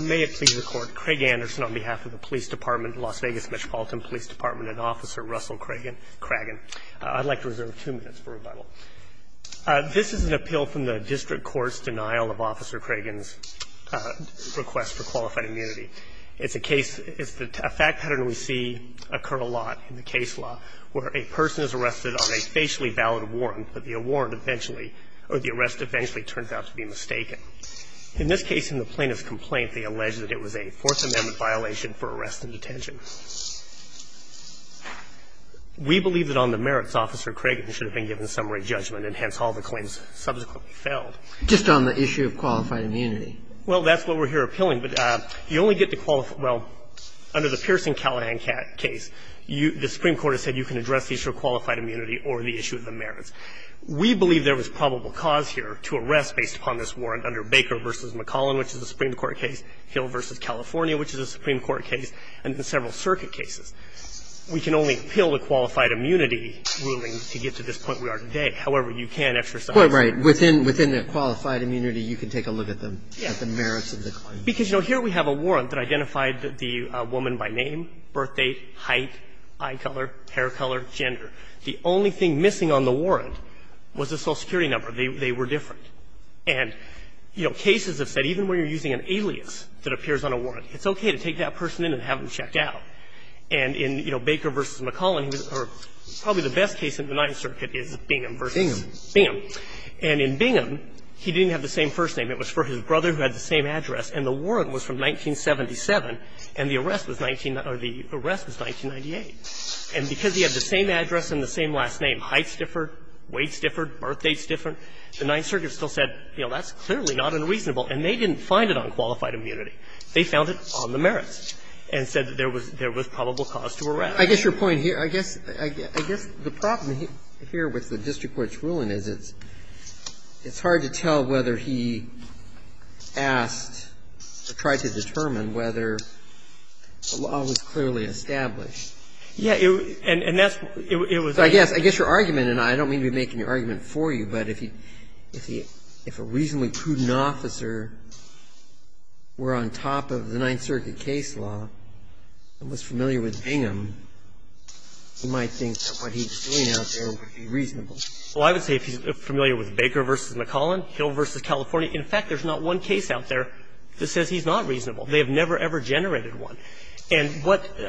May it please the Court, Craig Anderson on behalf of the Police Department of Las Vegas Metropolitan Police Department and Officer Russell Craggan. I'd like to reserve two minutes for rebuttal. This is an appeal from the District Court's denial of Officer Craggan's request for qualified immunity. It's a case, it's a fact pattern we see occur a lot in the case law where a person is arrested on a facially valid warrant, but the warrant eventually, or the arrest eventually turns out to be mistaken. In this case, in the plaintiff's complaint, they allege that it was a Fourth Amendment violation for arrest and detention. We believe that on the merits, Officer Craggan should have been given summary judgment, and hence all the claims subsequently failed. Just on the issue of qualified immunity. Well, that's what we're here appealing. But you only get to qualify – well, under the Pierson-Callahan case, the Supreme Court has said you can address the issue of qualified immunity or the issue of the merits. We believe there was probable cause here to arrest based upon this warrant under Baker v. McCallan, which is a Supreme Court case, Hill v. California, which is a Supreme Court case, and in several circuit cases. We can only appeal the qualified immunity ruling to get to this point we are today. However, you can't exercise it. Well, right. Within the qualified immunity, you can take a look at the merits of the claim. Because, you know, here we have a warrant that identified the woman by name, birth date, height, eye color, hair color, gender. The only thing missing on the warrant was a Social Security number. They were different. And, you know, cases have said even when you're using an alias that appears on a warrant, it's okay to take that person in and have them checked out. And in, you know, Baker v. McCallan, probably the best case in the Ninth Circuit is Bingham v. Bingham. And in Bingham, he didn't have the same first name. It was for his brother who had the same address. And the warrant was from 1977, and the arrest was 19 – or the arrest was 1998. And because he had the same address and the same last name, heights differed, weights differed, birth dates differed, the Ninth Circuit still said, you know, that's clearly not unreasonable, and they didn't find it on qualified immunity. They found it on the merits and said there was probable cause to arrest. I guess your point here – I guess the problem here with the district court's ruling is it's hard to tell whether he asked or tried to determine whether a law was clearly established. Yeah. And that's what it was. So I guess your argument, and I don't mean to be making your argument for you, but if he – if a reasonably prudent officer were on top of the Ninth Circuit case law and was familiar with Bingham, you might think that what he's saying out there would be reasonable. Well, I would say if he's familiar with Baker v. McCallan, Hill v. California, in fact, there's not one case out there that says he's not reasonable. They have never, ever generated one. And what the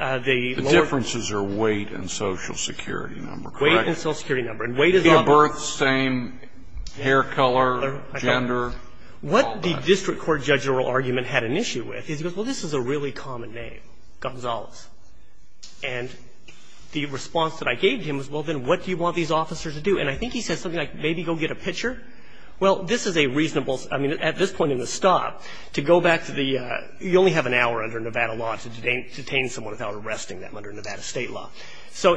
lower – The differences are weight and Social Security number, correct? Weight and Social Security number. And weight is not – Is he of birth, same hair color, gender, all that? What the district court judge oral argument had an issue with is he goes, well, this is a really common name, Gonzales. And the response that I gave to him was, well, then what do you want these officers to do? And I think he said something like, maybe go get a pitcher. Well, this is a reasonable – I mean, at this point in the stop, to go back to the – you only have an hour under Nevada law to detain someone without arresting them under Nevada state law. So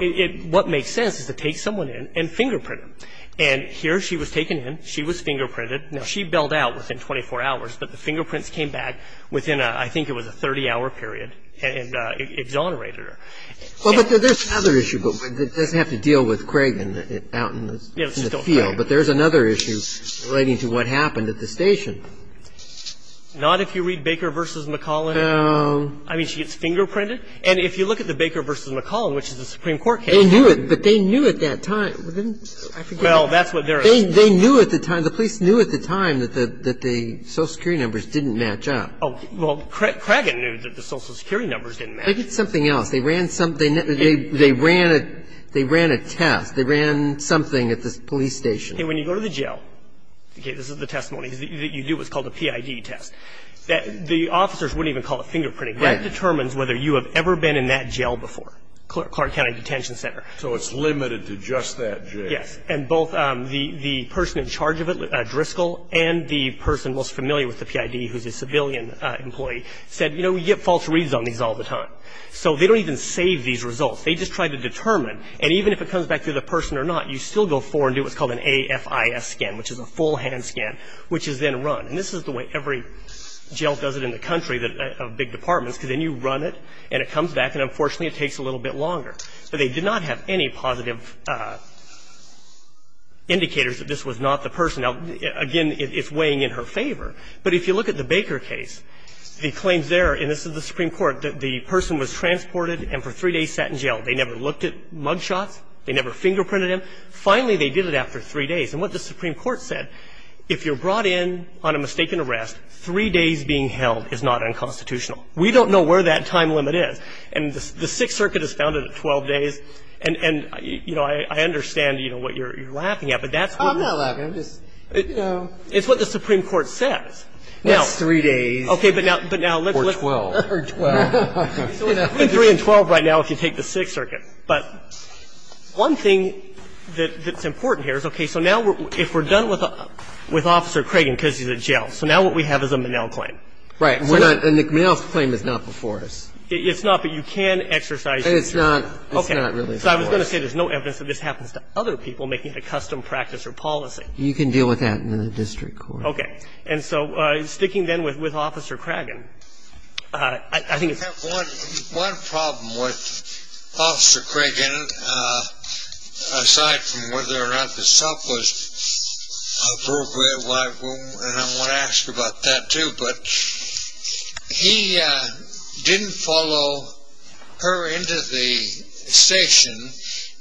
what makes sense is to take someone in and fingerprint them. And here she was taken in. She was fingerprinted. Now, she bailed out within 24 hours. But the fingerprints came back within I think it was a 30-hour period and exonerated her. Well, but there's another issue. But it doesn't have to deal with Craig out in the field. But there's another issue relating to what happened at the station. Not if you read Baker v. McCollin. I mean, she gets fingerprinted. And if you look at the Baker v. McCollin, which is a Supreme Court case. They knew it. But they knew at that time. I forget. Well, that's what there is. They knew at the time. The police knew at the time that the Social Security numbers didn't match up. Well, Craig knew that the Social Security numbers didn't match. They did something else. They ran a test. They ran something at the police station. And when you go to the jail, okay, this is the testimony. You do what's called a PID test. The officers wouldn't even call it fingerprinting. That determines whether you have ever been in that jail before, Clark County Detention Center. So it's limited to just that jail. Yes. And both the person in charge of it, Driscoll, and the person most familiar with the PID, who's a civilian employee, said, you know, we get false reads on these all the time. So they don't even save these results. They just try to determine. And even if it comes back to the person or not, you still go forward and do what's called an AFIS scan, which is a full hand scan, which is then run. And this is the way every jail does it in the country of big departments, because then you run it and it comes back. And, unfortunately, it takes a little bit longer. But they did not have any positive indicators that this was not the person. Now, again, it's weighing in her favor. But if you look at the Baker case, the claims there, and this is the Supreme Court, the person was transported and for three days sat in jail. They never looked at mug shots. They never fingerprinted him. Finally, they did it after three days. And what the Supreme Court said, if you're brought in on a mistaken arrest, three days being held is not unconstitutional. We don't know where that time limit is. And the Sixth Circuit has found it at 12 days. And, you know, I understand, you know, what you're laughing at. But that's what you're laughing at. I'm not laughing. I'm just, you know. It's what the Supreme Court says. That's three days. Okay. But now let's. Or 12. Or 12. Three and 12 right now if you take the Sixth Circuit. But one thing that's important here is, okay, so now if we're done with Officer Cragen because he's in jail, so now what we have is a Monell claim. Right. And the Monell claim is not before us. It's not, but you can exercise it. And it's not. Okay. It's not really before us. So I was going to say there's no evidence that this happens to other people making a custom practice or policy. You can deal with that in the district court. Okay. And so sticking then with Officer Cragen, I think it's. I have one problem with Officer Cragen aside from whether or not the stuff was appropriate and I want to ask about that too. But he didn't follow her into the station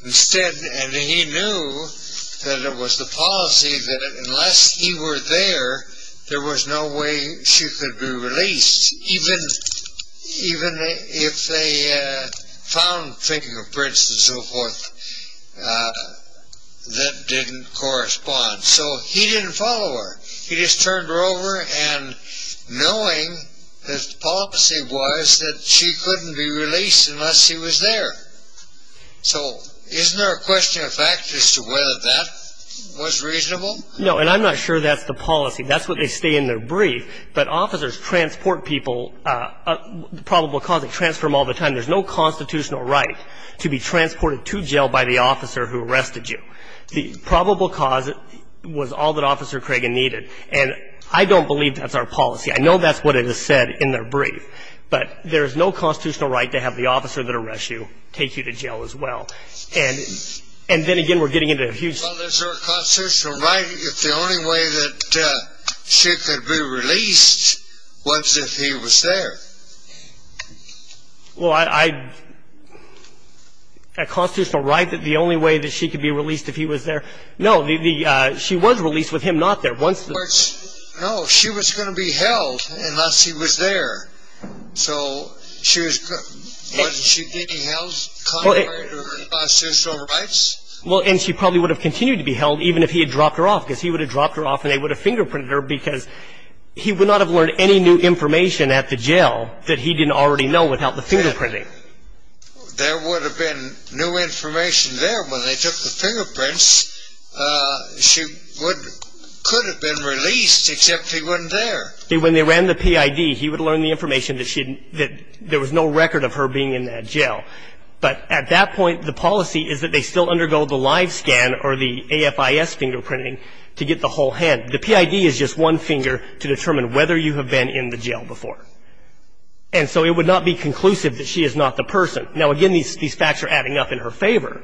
instead and he knew that it was the policy that unless he were there, there was no way she could be released even if they found, thinking of prints and so forth, that didn't correspond. So he didn't follow her. He just turned her over and knowing that the policy was that she couldn't be released unless he was there. So isn't there a question of fact as to whether that was reasonable? No. And I'm not sure that's the policy. That's what they say in their brief. But officers transport people, the probable cause, they transfer them all the time. There's no constitutional right to be transported to jail by the officer who arrested you. The probable cause was all that Officer Cragen needed. And I don't believe that's our policy. I know that's what it is said in their brief. But there's no constitutional right to have the officer that arrests you take you to jail as well. And then again, we're getting into a huge. Well, there's no constitutional right if the only way that she could be released was if he was there. Well, a constitutional right that the only way that she could be released if he was there? No, she was released with him not there. No, she was going to be held unless he was there. So wasn't she getting held contrary to her constitutional rights? Well, and she probably would have continued to be held even if he had dropped her off because he would have dropped her off and they would have fingerprinted her because he would not have learned any new information at the jail that he didn't already know without the fingerprinting. There would have been new information there when they took the fingerprints. She could have been released except he wasn't there. When they ran the PID, he would learn the information that there was no record of her being in that jail. But at that point, the policy is that they still undergo the live scan or the AFIS fingerprinting to get the whole hand. The PID is just one finger to determine whether you have been in the jail before. And so it would not be conclusive that she is not the person. Now, again, these facts are adding up in her favor,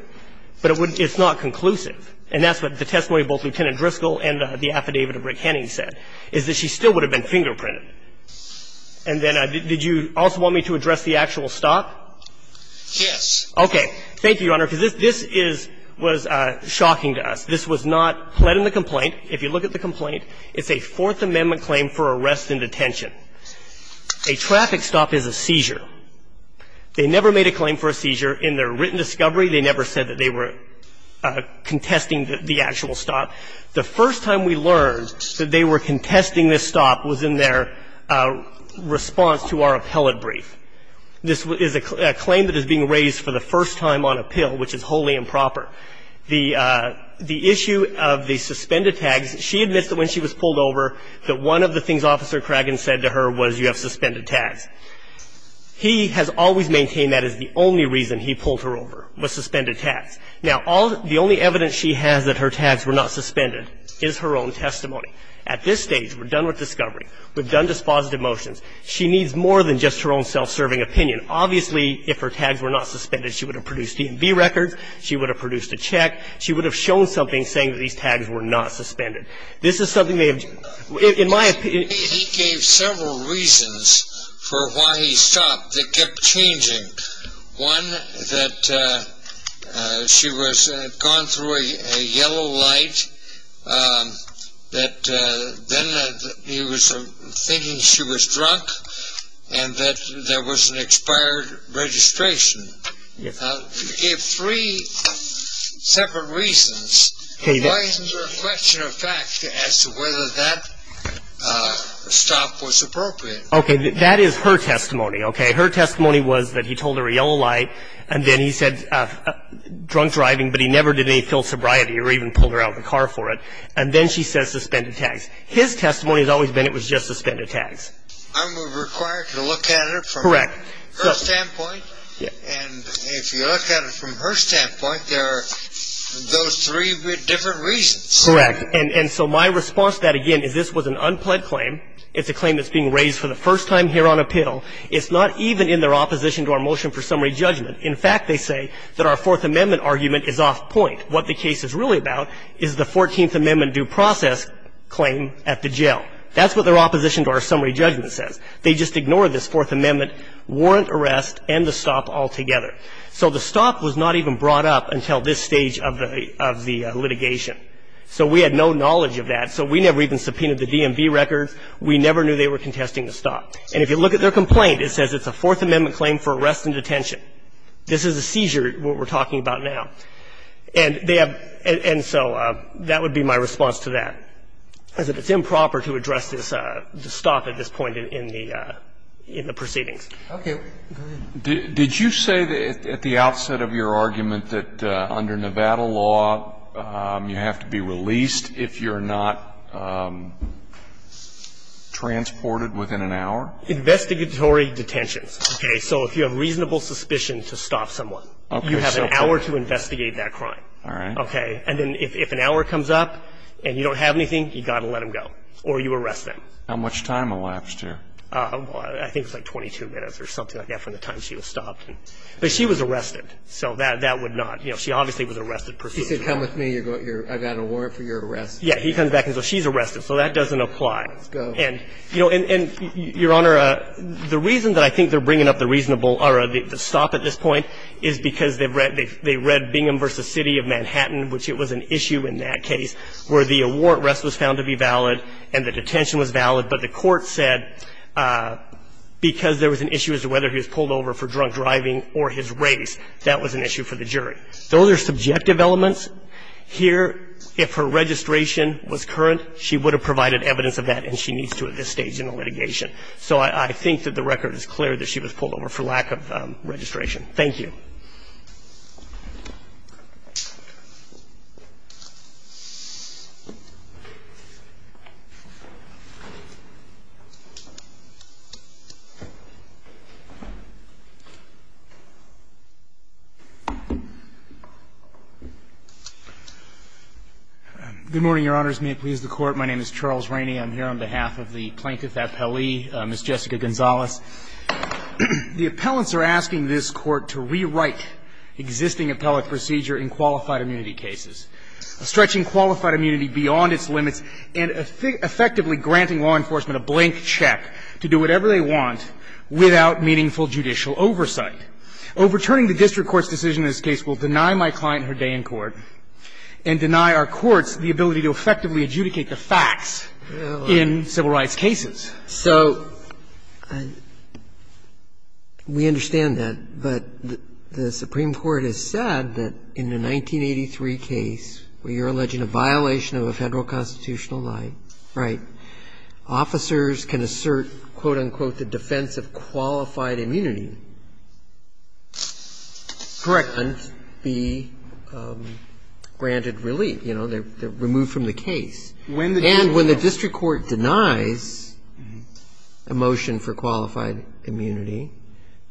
but it's not conclusive. And that's what the testimony of both Lieutenant Driscoll and the affidavit of Rick Henning said, is that she still would have been fingerprinted. And then did you also want me to address the actual stop? Yes. Okay. Thank you, Your Honor, because this was shocking to us. This was not pled in the complaint. If you look at the complaint, it's a Fourth Amendment claim for arrest in detention. A traffic stop is a seizure. They never made a claim for a seizure. In their written discovery, they never said that they were contesting the actual stop. The first time we learned that they were contesting this stop was in their response to our appellate brief. This is a claim that is being raised for the first time on appeal, which is wholly improper. The issue of the suspended tags, she admits that when she was pulled over, that one of the things Officer Craggan said to her was you have suspended tags. He has always maintained that is the only reason he pulled her over, was suspended tags. Now, the only evidence she has that her tags were not suspended is her own testimony. At this stage, we're done with discovery. We've done dispositive motions. She needs more than just her own self-serving opinion. Obviously, if her tags were not suspended, she would have produced EMB records. She would have produced a check. She would have shown something saying that these tags were not suspended. This is something they have done. He gave several reasons for why he stopped that kept changing. One, that she was gone through a yellow light, that then he was thinking she was drunk, and that there was an expired registration. He gave three separate reasons. Why isn't there a question of fact as to whether that stop was appropriate? Okay. That is her testimony. Okay. Her testimony was that he told her a yellow light, and then he said drunk driving, but he never did any filled sobriety or even pulled her out of the car for it. And then she says suspended tags. His testimony has always been it was just suspended tags. I'm required to look at it from her standpoint? Correct. Correct. And so my response to that, again, is this was an unpled claim. It's a claim that's being raised for the first time here on appeal. It's not even in their opposition to our motion for summary judgment. In fact, they say that our Fourth Amendment argument is off point. What the case is really about is the Fourteenth Amendment due process claim at the jail. That's what their opposition to our summary judgment says. They just ignore this Fourth Amendment warrant arrest and the stop altogether. So the stop was not even brought up until this stage of the litigation. So we had no knowledge of that. So we never even subpoenaed the DMV records. We never knew they were contesting the stop. And if you look at their complaint, it says it's a Fourth Amendment claim for arrest and detention. This is a seizure, what we're talking about now. And they have and so that would be my response to that, is that it's improper to address this stop at this point in the proceedings. Okay. Go ahead. Did you say at the outset of your argument that under Nevada law, you have to be released if you're not transported within an hour? Investigatory detentions. Okay. So if you have reasonable suspicion to stop someone, you have an hour to investigate that crime. All right. Okay. And then if an hour comes up and you don't have anything, you've got to let them go, or you arrest them. How much time elapsed here? Well, I think it was like 22 minutes or something like that from the time she was stopped. But she was arrested, so that would not. You know, she obviously was arrested. She said, come with me. I've got a warrant for your arrest. Yeah. He comes back and says, well, she's arrested. So that doesn't apply. Let's go. And, you know, and, Your Honor, the reason that I think they're bringing up the reasonable or the stop at this point is because they've read Bingham v. City of Manhattan, which it was an issue in that case where the arrest was found to be valid and the detention was valid. But the court said because there was an issue as to whether he was pulled over for drunk driving or his race, that was an issue for the jury. Those are subjective elements. Here, if her registration was current, she would have provided evidence of that, and she needs to at this stage in the litigation. So I think that the record is clear that she was pulled over for lack of registration. Thank you. Good morning, Your Honors. May it please the Court. My name is Charles Rainey. I'm here on behalf of the Plaintiff Appellee, Ms. Jessica Gonzalez. The appellants are asking this Court to rewrite existing appellate procedure in qualified immunity cases, stretching qualified immunity beyond its limits and effectively granting law enforcement a blank check to do whatever they want without meaningful judicial oversight. Overturning the district court's decision in this case will deny my client her day in court and deny our courts the ability to effectively adjudicate the facts in civil rights cases. So we understand that, but the Supreme Court has said that in a 1983 case where you're alleging a violation of a Federal constitutional right, officers can assert, quote, unquote, the defense of qualified immunity. Correct. And be granted relief. You know, they're removed from the case. And when the district court denies a motion for qualified immunity,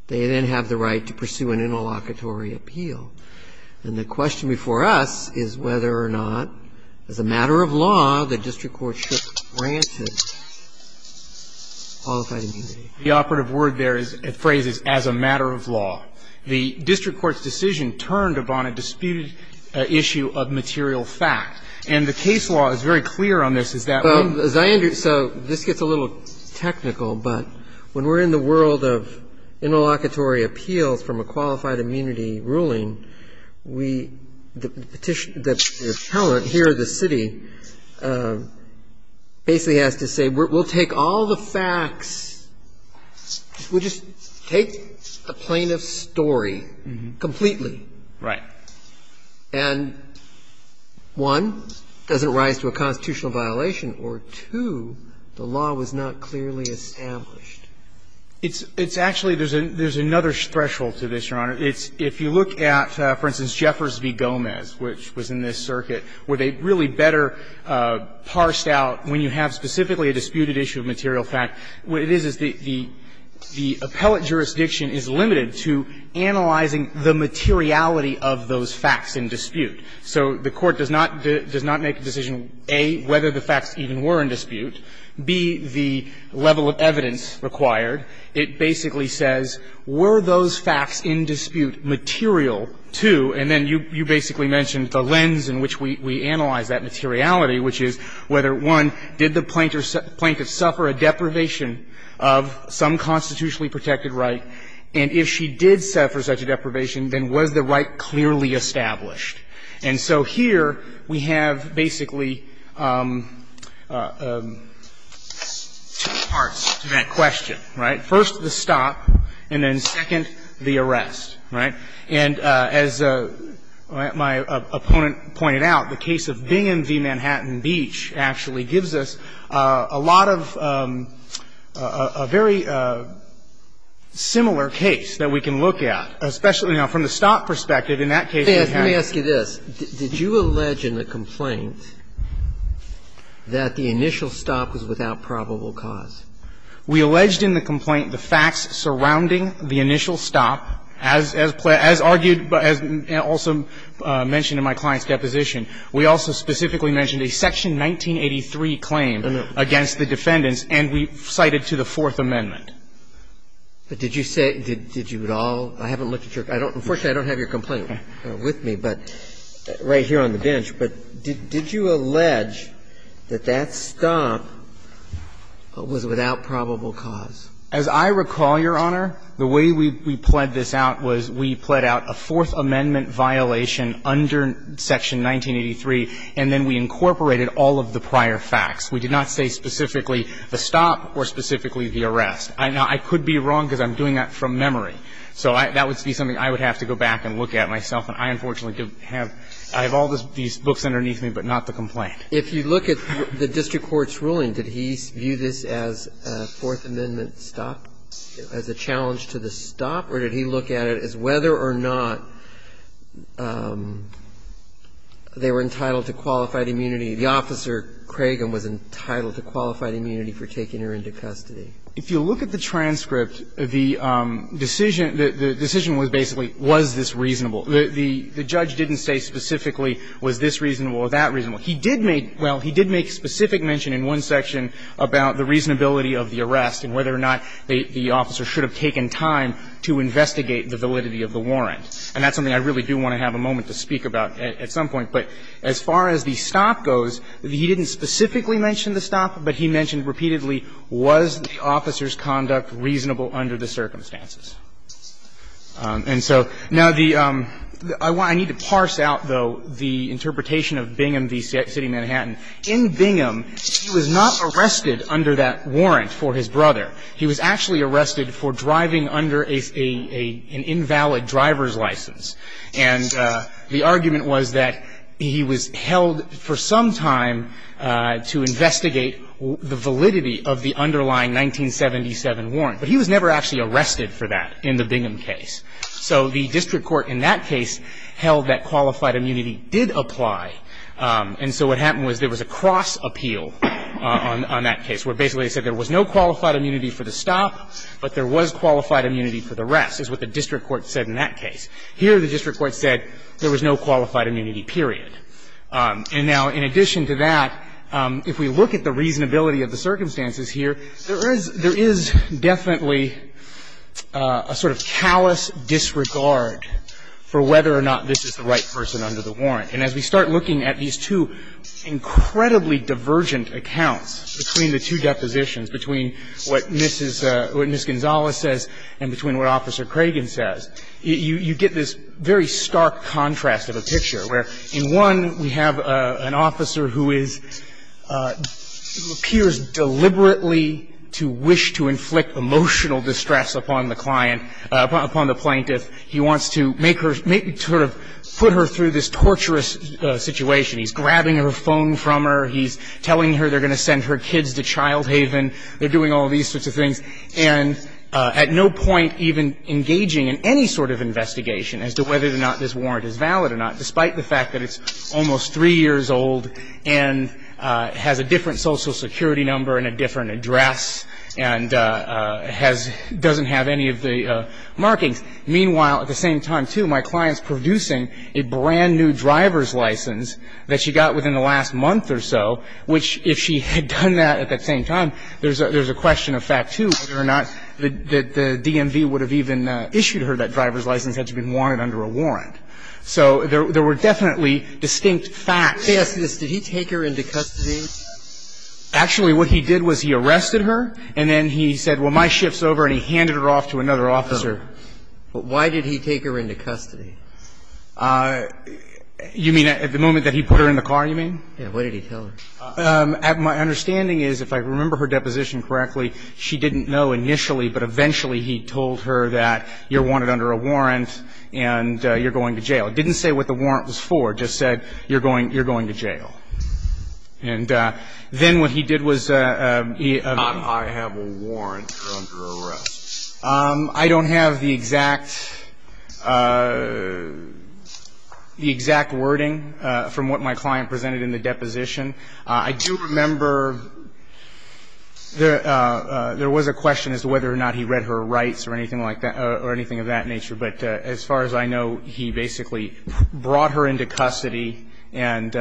they then have the right to pursue an interlocutory appeal. And the question before us is whether or not, as a matter of law, the district court should grant it qualified immunity. The operative word there is a phrase, as a matter of law. The district court's decision turned upon a disputed issue of material fact. And the case law is very clear on this. Is that what you're saying? So this gets a little technical, but when we're in the world of interlocutory appeals from a qualified immunity ruling, we, the petition, the appellant here, the city, basically has to say we'll take all the facts, we'll just take the plaintiff's story completely. Right. And, one, does it rise to a constitutional violation? Or, two, the law was not clearly established. It's actually, there's another threshold to this, Your Honor. If you look at, for instance, Jeffers v. Gomez, which was in this circuit, where they really better parsed out when you have specifically a disputed issue of material fact, what it is is the appellate jurisdiction is limited to analyzing the materiality of those facts in dispute. So the Court does not make a decision, A, whether the facts even were in dispute, B, the level of evidence required. It basically says, were those facts in dispute material to, and then you basically mentioned the lens in which we analyze that materiality, which is whether, one, did the plaintiff suffer a deprivation of some constitutionally protected right, and if she did suffer such a deprivation, then was the right clearly established. And so here, we have basically two parts to that question, right. First, the stop, and then, second, the arrest. Right. And as my opponent pointed out, the case of Bingham v. Manhattan Beach actually gives us a lot of very similar case that we can look at, especially now from the stop perspective. In that case, we have to ask you this. Did you allege in the complaint that the initial stop was without probable cause? We alleged in the complaint the facts surrounding the initial stop, as argued, but as also mentioned in my client's deposition. We also specifically mentioned a Section 1983 claim against the defendants, and we cited to the Fourth Amendment. But did you say, did you at all, I haven't looked at your, I don't, unfortunately, I don't have your complaint with me, but, right here on the bench, but did you allege that that stop was without probable cause? As I recall, Your Honor, the way we pled this out was we pled out a Fourth Amendment violation under Section 1983, and then we incorporated all of the prior facts. We did not say specifically the stop or specifically the arrest. Now, I could be wrong because I'm doing that from memory. So that would be something I would have to go back and look at myself. And I, unfortunately, have all these books underneath me, but not the complaint. If you look at the district court's ruling, did he view this as a Fourth Amendment stop, as a challenge to the stop, or did he look at it as whether or not they were entitled to qualified immunity? The officer, Cragen, was entitled to qualified immunity for taking her into custody. If you look at the transcript, the decision, the decision was basically was this reasonable. The judge didn't say specifically was this reasonable or that reasonable. He did make, well, he did make specific mention in one section about the reasonability of the arrest and whether or not the officer should have taken time to investigate the validity of the warrant. And that's something I really do want to have a moment to speak about at some point. But as far as the stop goes, he didn't specifically mention the stop, but he mentioned repeatedly was the officer's conduct reasonable under the circumstances. And so now the – I need to parse out, though, the interpretation of Bingham v. City, he was actually arrested for driving under an invalid driver's license. And the argument was that he was held for some time to investigate the validity of the underlying 1977 warrant. But he was never actually arrested for that in the Bingham case. So the district court in that case held that qualified immunity did apply. And so what happened was there was a cross appeal on that case, where basically they said there was no qualified immunity for the stop, but there was qualified immunity for the rest, is what the district court said in that case. Here the district court said there was no qualified immunity, period. And now in addition to that, if we look at the reasonability of the circumstances here, there is definitely a sort of callous disregard for whether or not this is the right person under the warrant. And as we start looking at these two incredibly divergent accounts between the two positions, between what Mrs. – what Ms. Gonzales says and between what Officer Cragen says, you get this very stark contrast of a picture, where in one we have an officer who is – appears deliberately to wish to inflict emotional distress upon the client – upon the plaintiff. He wants to make her – sort of put her through this torturous situation. He's grabbing her phone from her. He's telling her they're going to send her kids to child haven. They're doing all these sorts of things. And at no point even engaging in any sort of investigation as to whether or not this warrant is valid or not, despite the fact that it's almost three years old and has a different social security number and a different address and has – doesn't have any of the markings. Meanwhile, at the same time, too, my client's producing a brand-new driver's license that she got within the last month or so, which, if she had done that at that same time, there's a question of fact, too, whether or not the DMV would have even issued her that driver's license had she been warranted under a warrant. So there were definitely distinct facts. Breyer. Let me ask you this. Did he take her into custody? Actually, what he did was he arrested her, and then he said, well, my shift's over, and he handed her off to another officer. But why did he take her into custody? You mean at the moment that he put her in the car, you mean? Yeah. What did he tell her? My understanding is, if I remember her deposition correctly, she didn't know initially, but eventually he told her that you're warranted under a warrant and you're going to jail. It didn't say what the warrant was for. It just said you're going to jail. And then what he did was he – I have a warrant. You're under arrest. I don't have the exact wording from what my client presented in the deposition. I do remember there was a question as to whether or not he read her rights or anything of that nature. But as far as I know, he basically brought her into custody and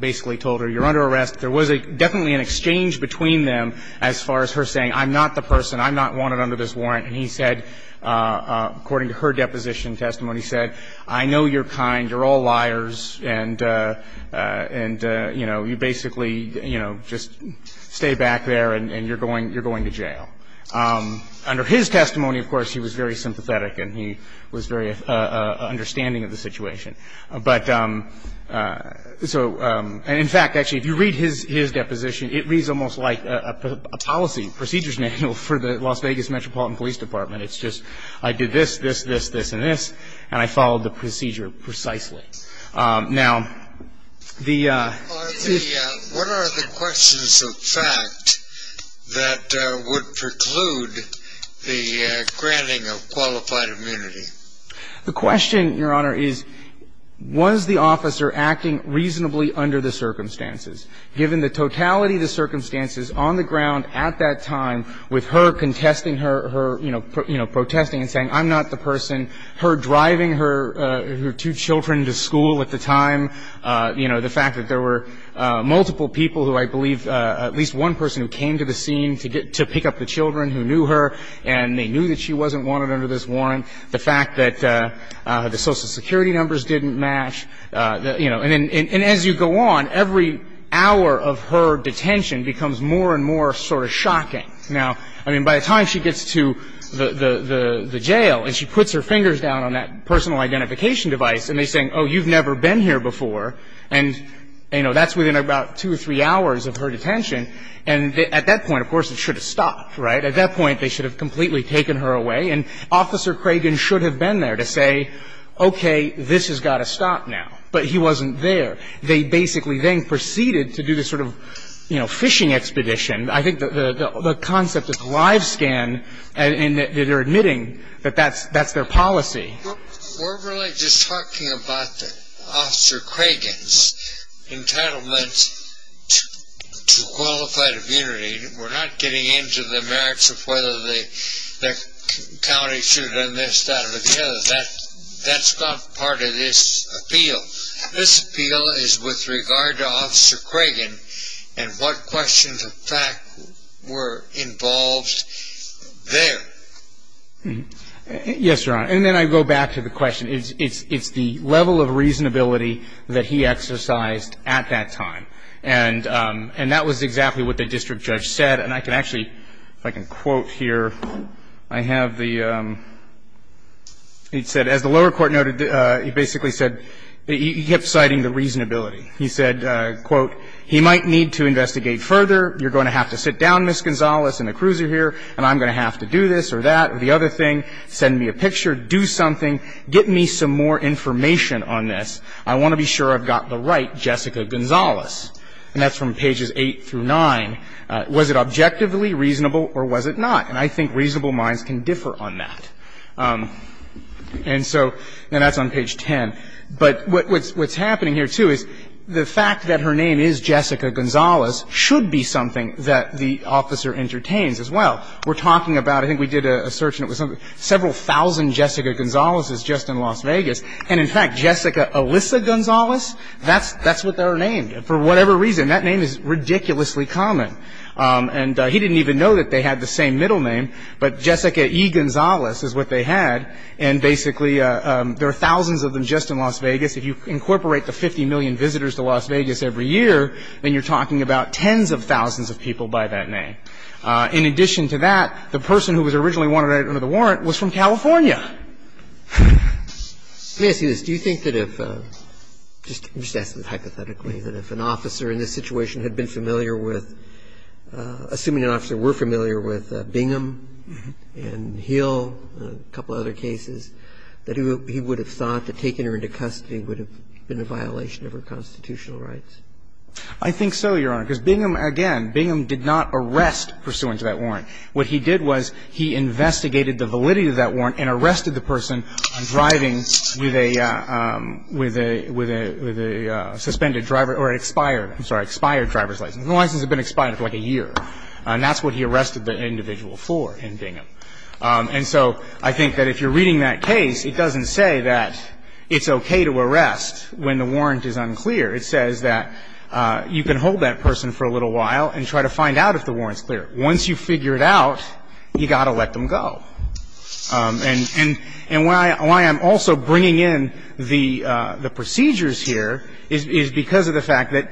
basically told her, you're under arrest. There was definitely an exchange between them as far as her saying, I'm not the person, I'm not wanted under this warrant. And he said, according to her deposition testimony, he said, I know you're kind. You're all liars. And, you know, you basically, you know, just stay back there and you're going to jail. Under his testimony, of course, he was very sympathetic and he was very understanding of the situation. But so – and in fact, actually, if you read his deposition, it reads almost like a policy procedures manual for the Las Vegas Metropolitan Police Department. It's just, I did this, this, this, this, and this, and I followed the procedure precisely. Now, the – What are the questions of fact that would preclude the granting of qualified immunity? The question, Your Honor, is, was the officer acting reasonably under the circumstances? Given the totality of the circumstances on the ground at that time with her contesting her, her, you know, protesting and saying, I'm not the person, her driving her two children to school at the time, you know, the fact that there were multiple people who I believe, at least one person who came to the scene to pick up the children who knew her and they knew that she wasn't wanted under this warrant, the fact that the Social Security numbers didn't match, you know. And as you go on, every hour of her detention becomes more and more sort of shocking. Now, I mean, by the time she gets to the jail and she puts her fingers down on that personal identification device and they're saying, oh, you've never been here before, and, you know, that's within about two or three hours of her detention. And at that point, of course, it should have stopped, right? At that point, they should have completely taken her away. And Officer Cragen should have been there to say, okay, this has got to stop now. But he wasn't there. They basically then proceeded to do this sort of, you know, phishing expedition. I think the concept of live scan and that they're admitting that that's their policy. We're really just talking about Officer Cragen's entitlement to qualified immunity. We're not getting into the merits of whether the county should enlist that or the others. That's not part of this appeal. This appeal is with regard to Officer Cragen and what questions of fact were involved there. Yes, Your Honor. And then I go back to the question. It's the level of reasonability that he exercised at that time. And that was exactly what the district judge said. And I can actually, if I can quote here, I have the, he said, as the lower court noted, he basically said, he kept citing the reasonability. He said, quote, he might need to investigate further. You're going to have to sit down, Ms. Gonzalez and the cruiser here, and I'm going to have to do this or that or the other thing. Send me a picture. Do something. Get me some more information on this. I want to be sure I've got the right Jessica Gonzalez. And that's from pages 8 through 9. Was it objectively reasonable or was it not? And I think reasonable minds can differ on that. And so, and that's on page 10. But what's happening here, too, is the fact that her name is Jessica Gonzalez should be something that the officer entertains as well. We're talking about, I think we did a search and it was several thousand Jessica Gonzalez's just in Las Vegas. And, in fact, Jessica Alyssa Gonzalez, that's what they're named. For whatever reason, that name is ridiculously common. And he didn't even know that they had the same middle name. But Jessica E. Gonzalez is what they had. And basically there are thousands of them just in Las Vegas. If you incorporate the 50 million visitors to Las Vegas every year, then you're talking about tens of thousands of people by that name. In addition to that, the person who was originally wanted under the warrant was from California. Let me ask you this. Do you think that if, just ask this hypothetically, that if an officer in this situation had been familiar with, assuming an officer were familiar with Bingham and Hill and a couple of other cases, that he would have thought that taking her into custody would have been a violation of her constitutional rights? I think so, Your Honor, because Bingham, again, Bingham did not arrest pursuant to that warrant. What he did was he investigated the validity of that warrant and arrested the person on driving with a suspended driver or expired, I'm sorry, expired driver's license. The license had been expired for like a year. And that's what he arrested the individual for in Bingham. And so I think that if you're reading that case, it doesn't say that it's okay to arrest when the warrant is unclear. It says that you can hold that person for a little while and try to find out if the warrant's clear. Once you figure it out, you've got to let them go. And why I'm also bringing in the procedures here is because of the fact that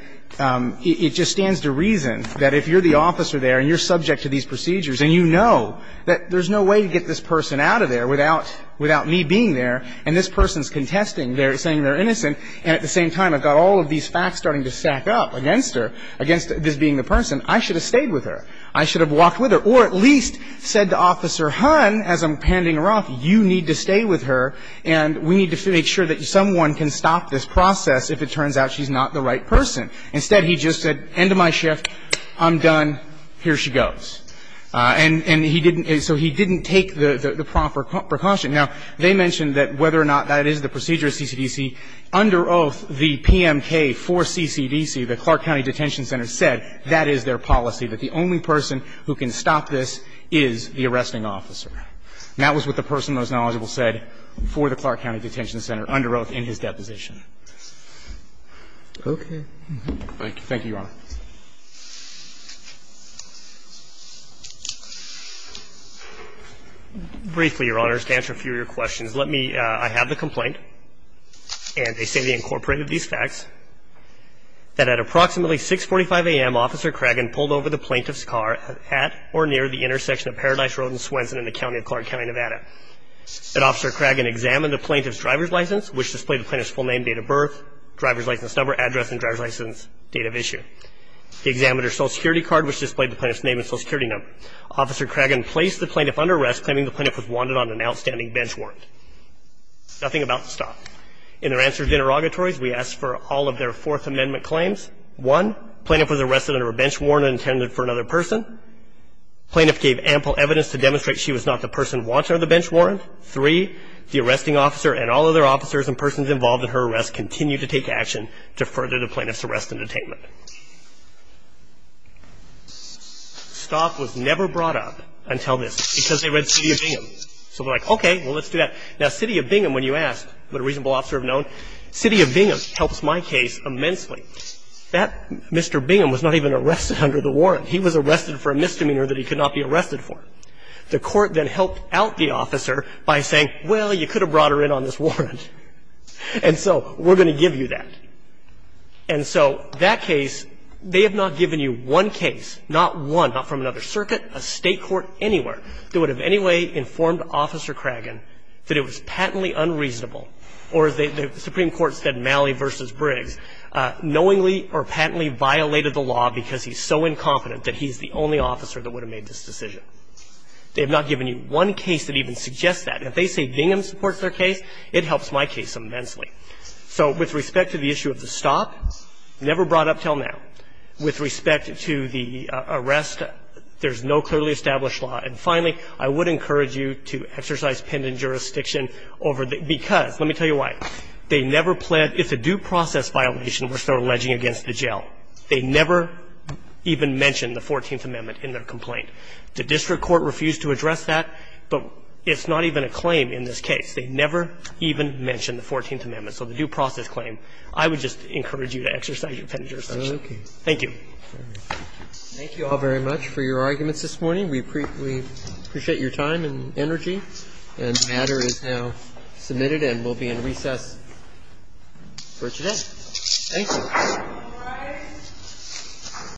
it just stands to reason that if you're the officer there and you're subject to these procedures and you know that there's no way to get this person out of there without me being there and this person's contesting, saying they're innocent, and at the same time I've got all of these facts starting to stack up against her, against this being the person, I should have stayed with her. I should have walked with her. Or at least said to Officer Hunt, as I'm handing her off, you need to stay with her and we need to make sure that someone can stop this process if it turns out she's not the right person. Instead, he just said, end of my shift. I'm done. Here she goes. And he didn't – so he didn't take the proper precaution. Now, they mentioned that whether or not that is the procedure of CCDC. Under oath, the PMK for CCDC, the Clark County Detention Center, said that is their policy, that the only person who can stop this is the arresting officer. And that was what the person most knowledgeable said for the Clark County Detention Center under oath in his deposition. Okay. Thank you. Thank you, Your Honor. Briefly, Your Honor, just to answer a few of your questions. Let me – I have the complaint. And they say they incorporated these facts, that at approximately 6.45 a.m., Officer Cragen pulled over the plaintiff's car at or near the intersection of Paradise Road and Swenson in the county of Clark County, Nevada. And Officer Cragen examined the plaintiff's driver's license, which displayed the plaintiff's full name, date of birth, driver's license number, address, and driver's license date of issue. They examined her Social Security card, which displayed the plaintiff's name and Social Security number. Officer Cragen placed the plaintiff under arrest, claiming the plaintiff was wanted on an outstanding bench warrant. Nothing about to stop. In their answer to interrogatories, we asked for all of their Fourth Amendment claims. One, the plaintiff was arrested under a bench warrant intended for another person. The plaintiff gave ample evidence to demonstrate she was not the person wanted under the bench warrant. Three, the arresting officer and all other officers and persons involved in her arrest continued to take action to further the plaintiff's arrest and detainment. Stop was never brought up until this, because they read City of Bingham. So they're like, okay, well, let's do that. Now, City of Bingham, when you ask what a reasonable officer would have known, City of Bingham helps my case immensely. That Mr. Bingham was not even arrested under the warrant. He was arrested for a misdemeanor that he could not be arrested for. The court then helped out the officer by saying, well, you could have brought her in on this warrant. And so we're going to give you that. And so that case, they have not given you one case, not one, not from another circuit, a State court, anywhere, that would have in any way informed Officer Craggan that it was patently unreasonable or, as the Supreme Court said in Malley v. Briggs, knowingly or patently violated the law because he's so incompetent that he's the only officer that would have made this decision. They have not given you one case that even suggests that. And if they say Bingham supports their case, it helps my case immensely. So with respect to the issue of the stop, never brought up until now. With respect to the arrest, there's no clearly established law. And finally, I would encourage you to exercise pendant jurisdiction over the ‑‑ because, let me tell you why. They never planned ‑‑ it's a due process violation which they're alleging against the jail. They never even mentioned the Fourteenth Amendment in their complaint. The district court refused to address that, but it's not even a claim in this case. They never even mentioned the Fourteenth Amendment. So the due process claim, I would just encourage you to exercise your pendant jurisdiction. Thank you. Roberts. Thank you all very much for your arguments this morning. We appreciate your time and energy. And the matter is now submitted and will be in recess for today. Thank you. All rise.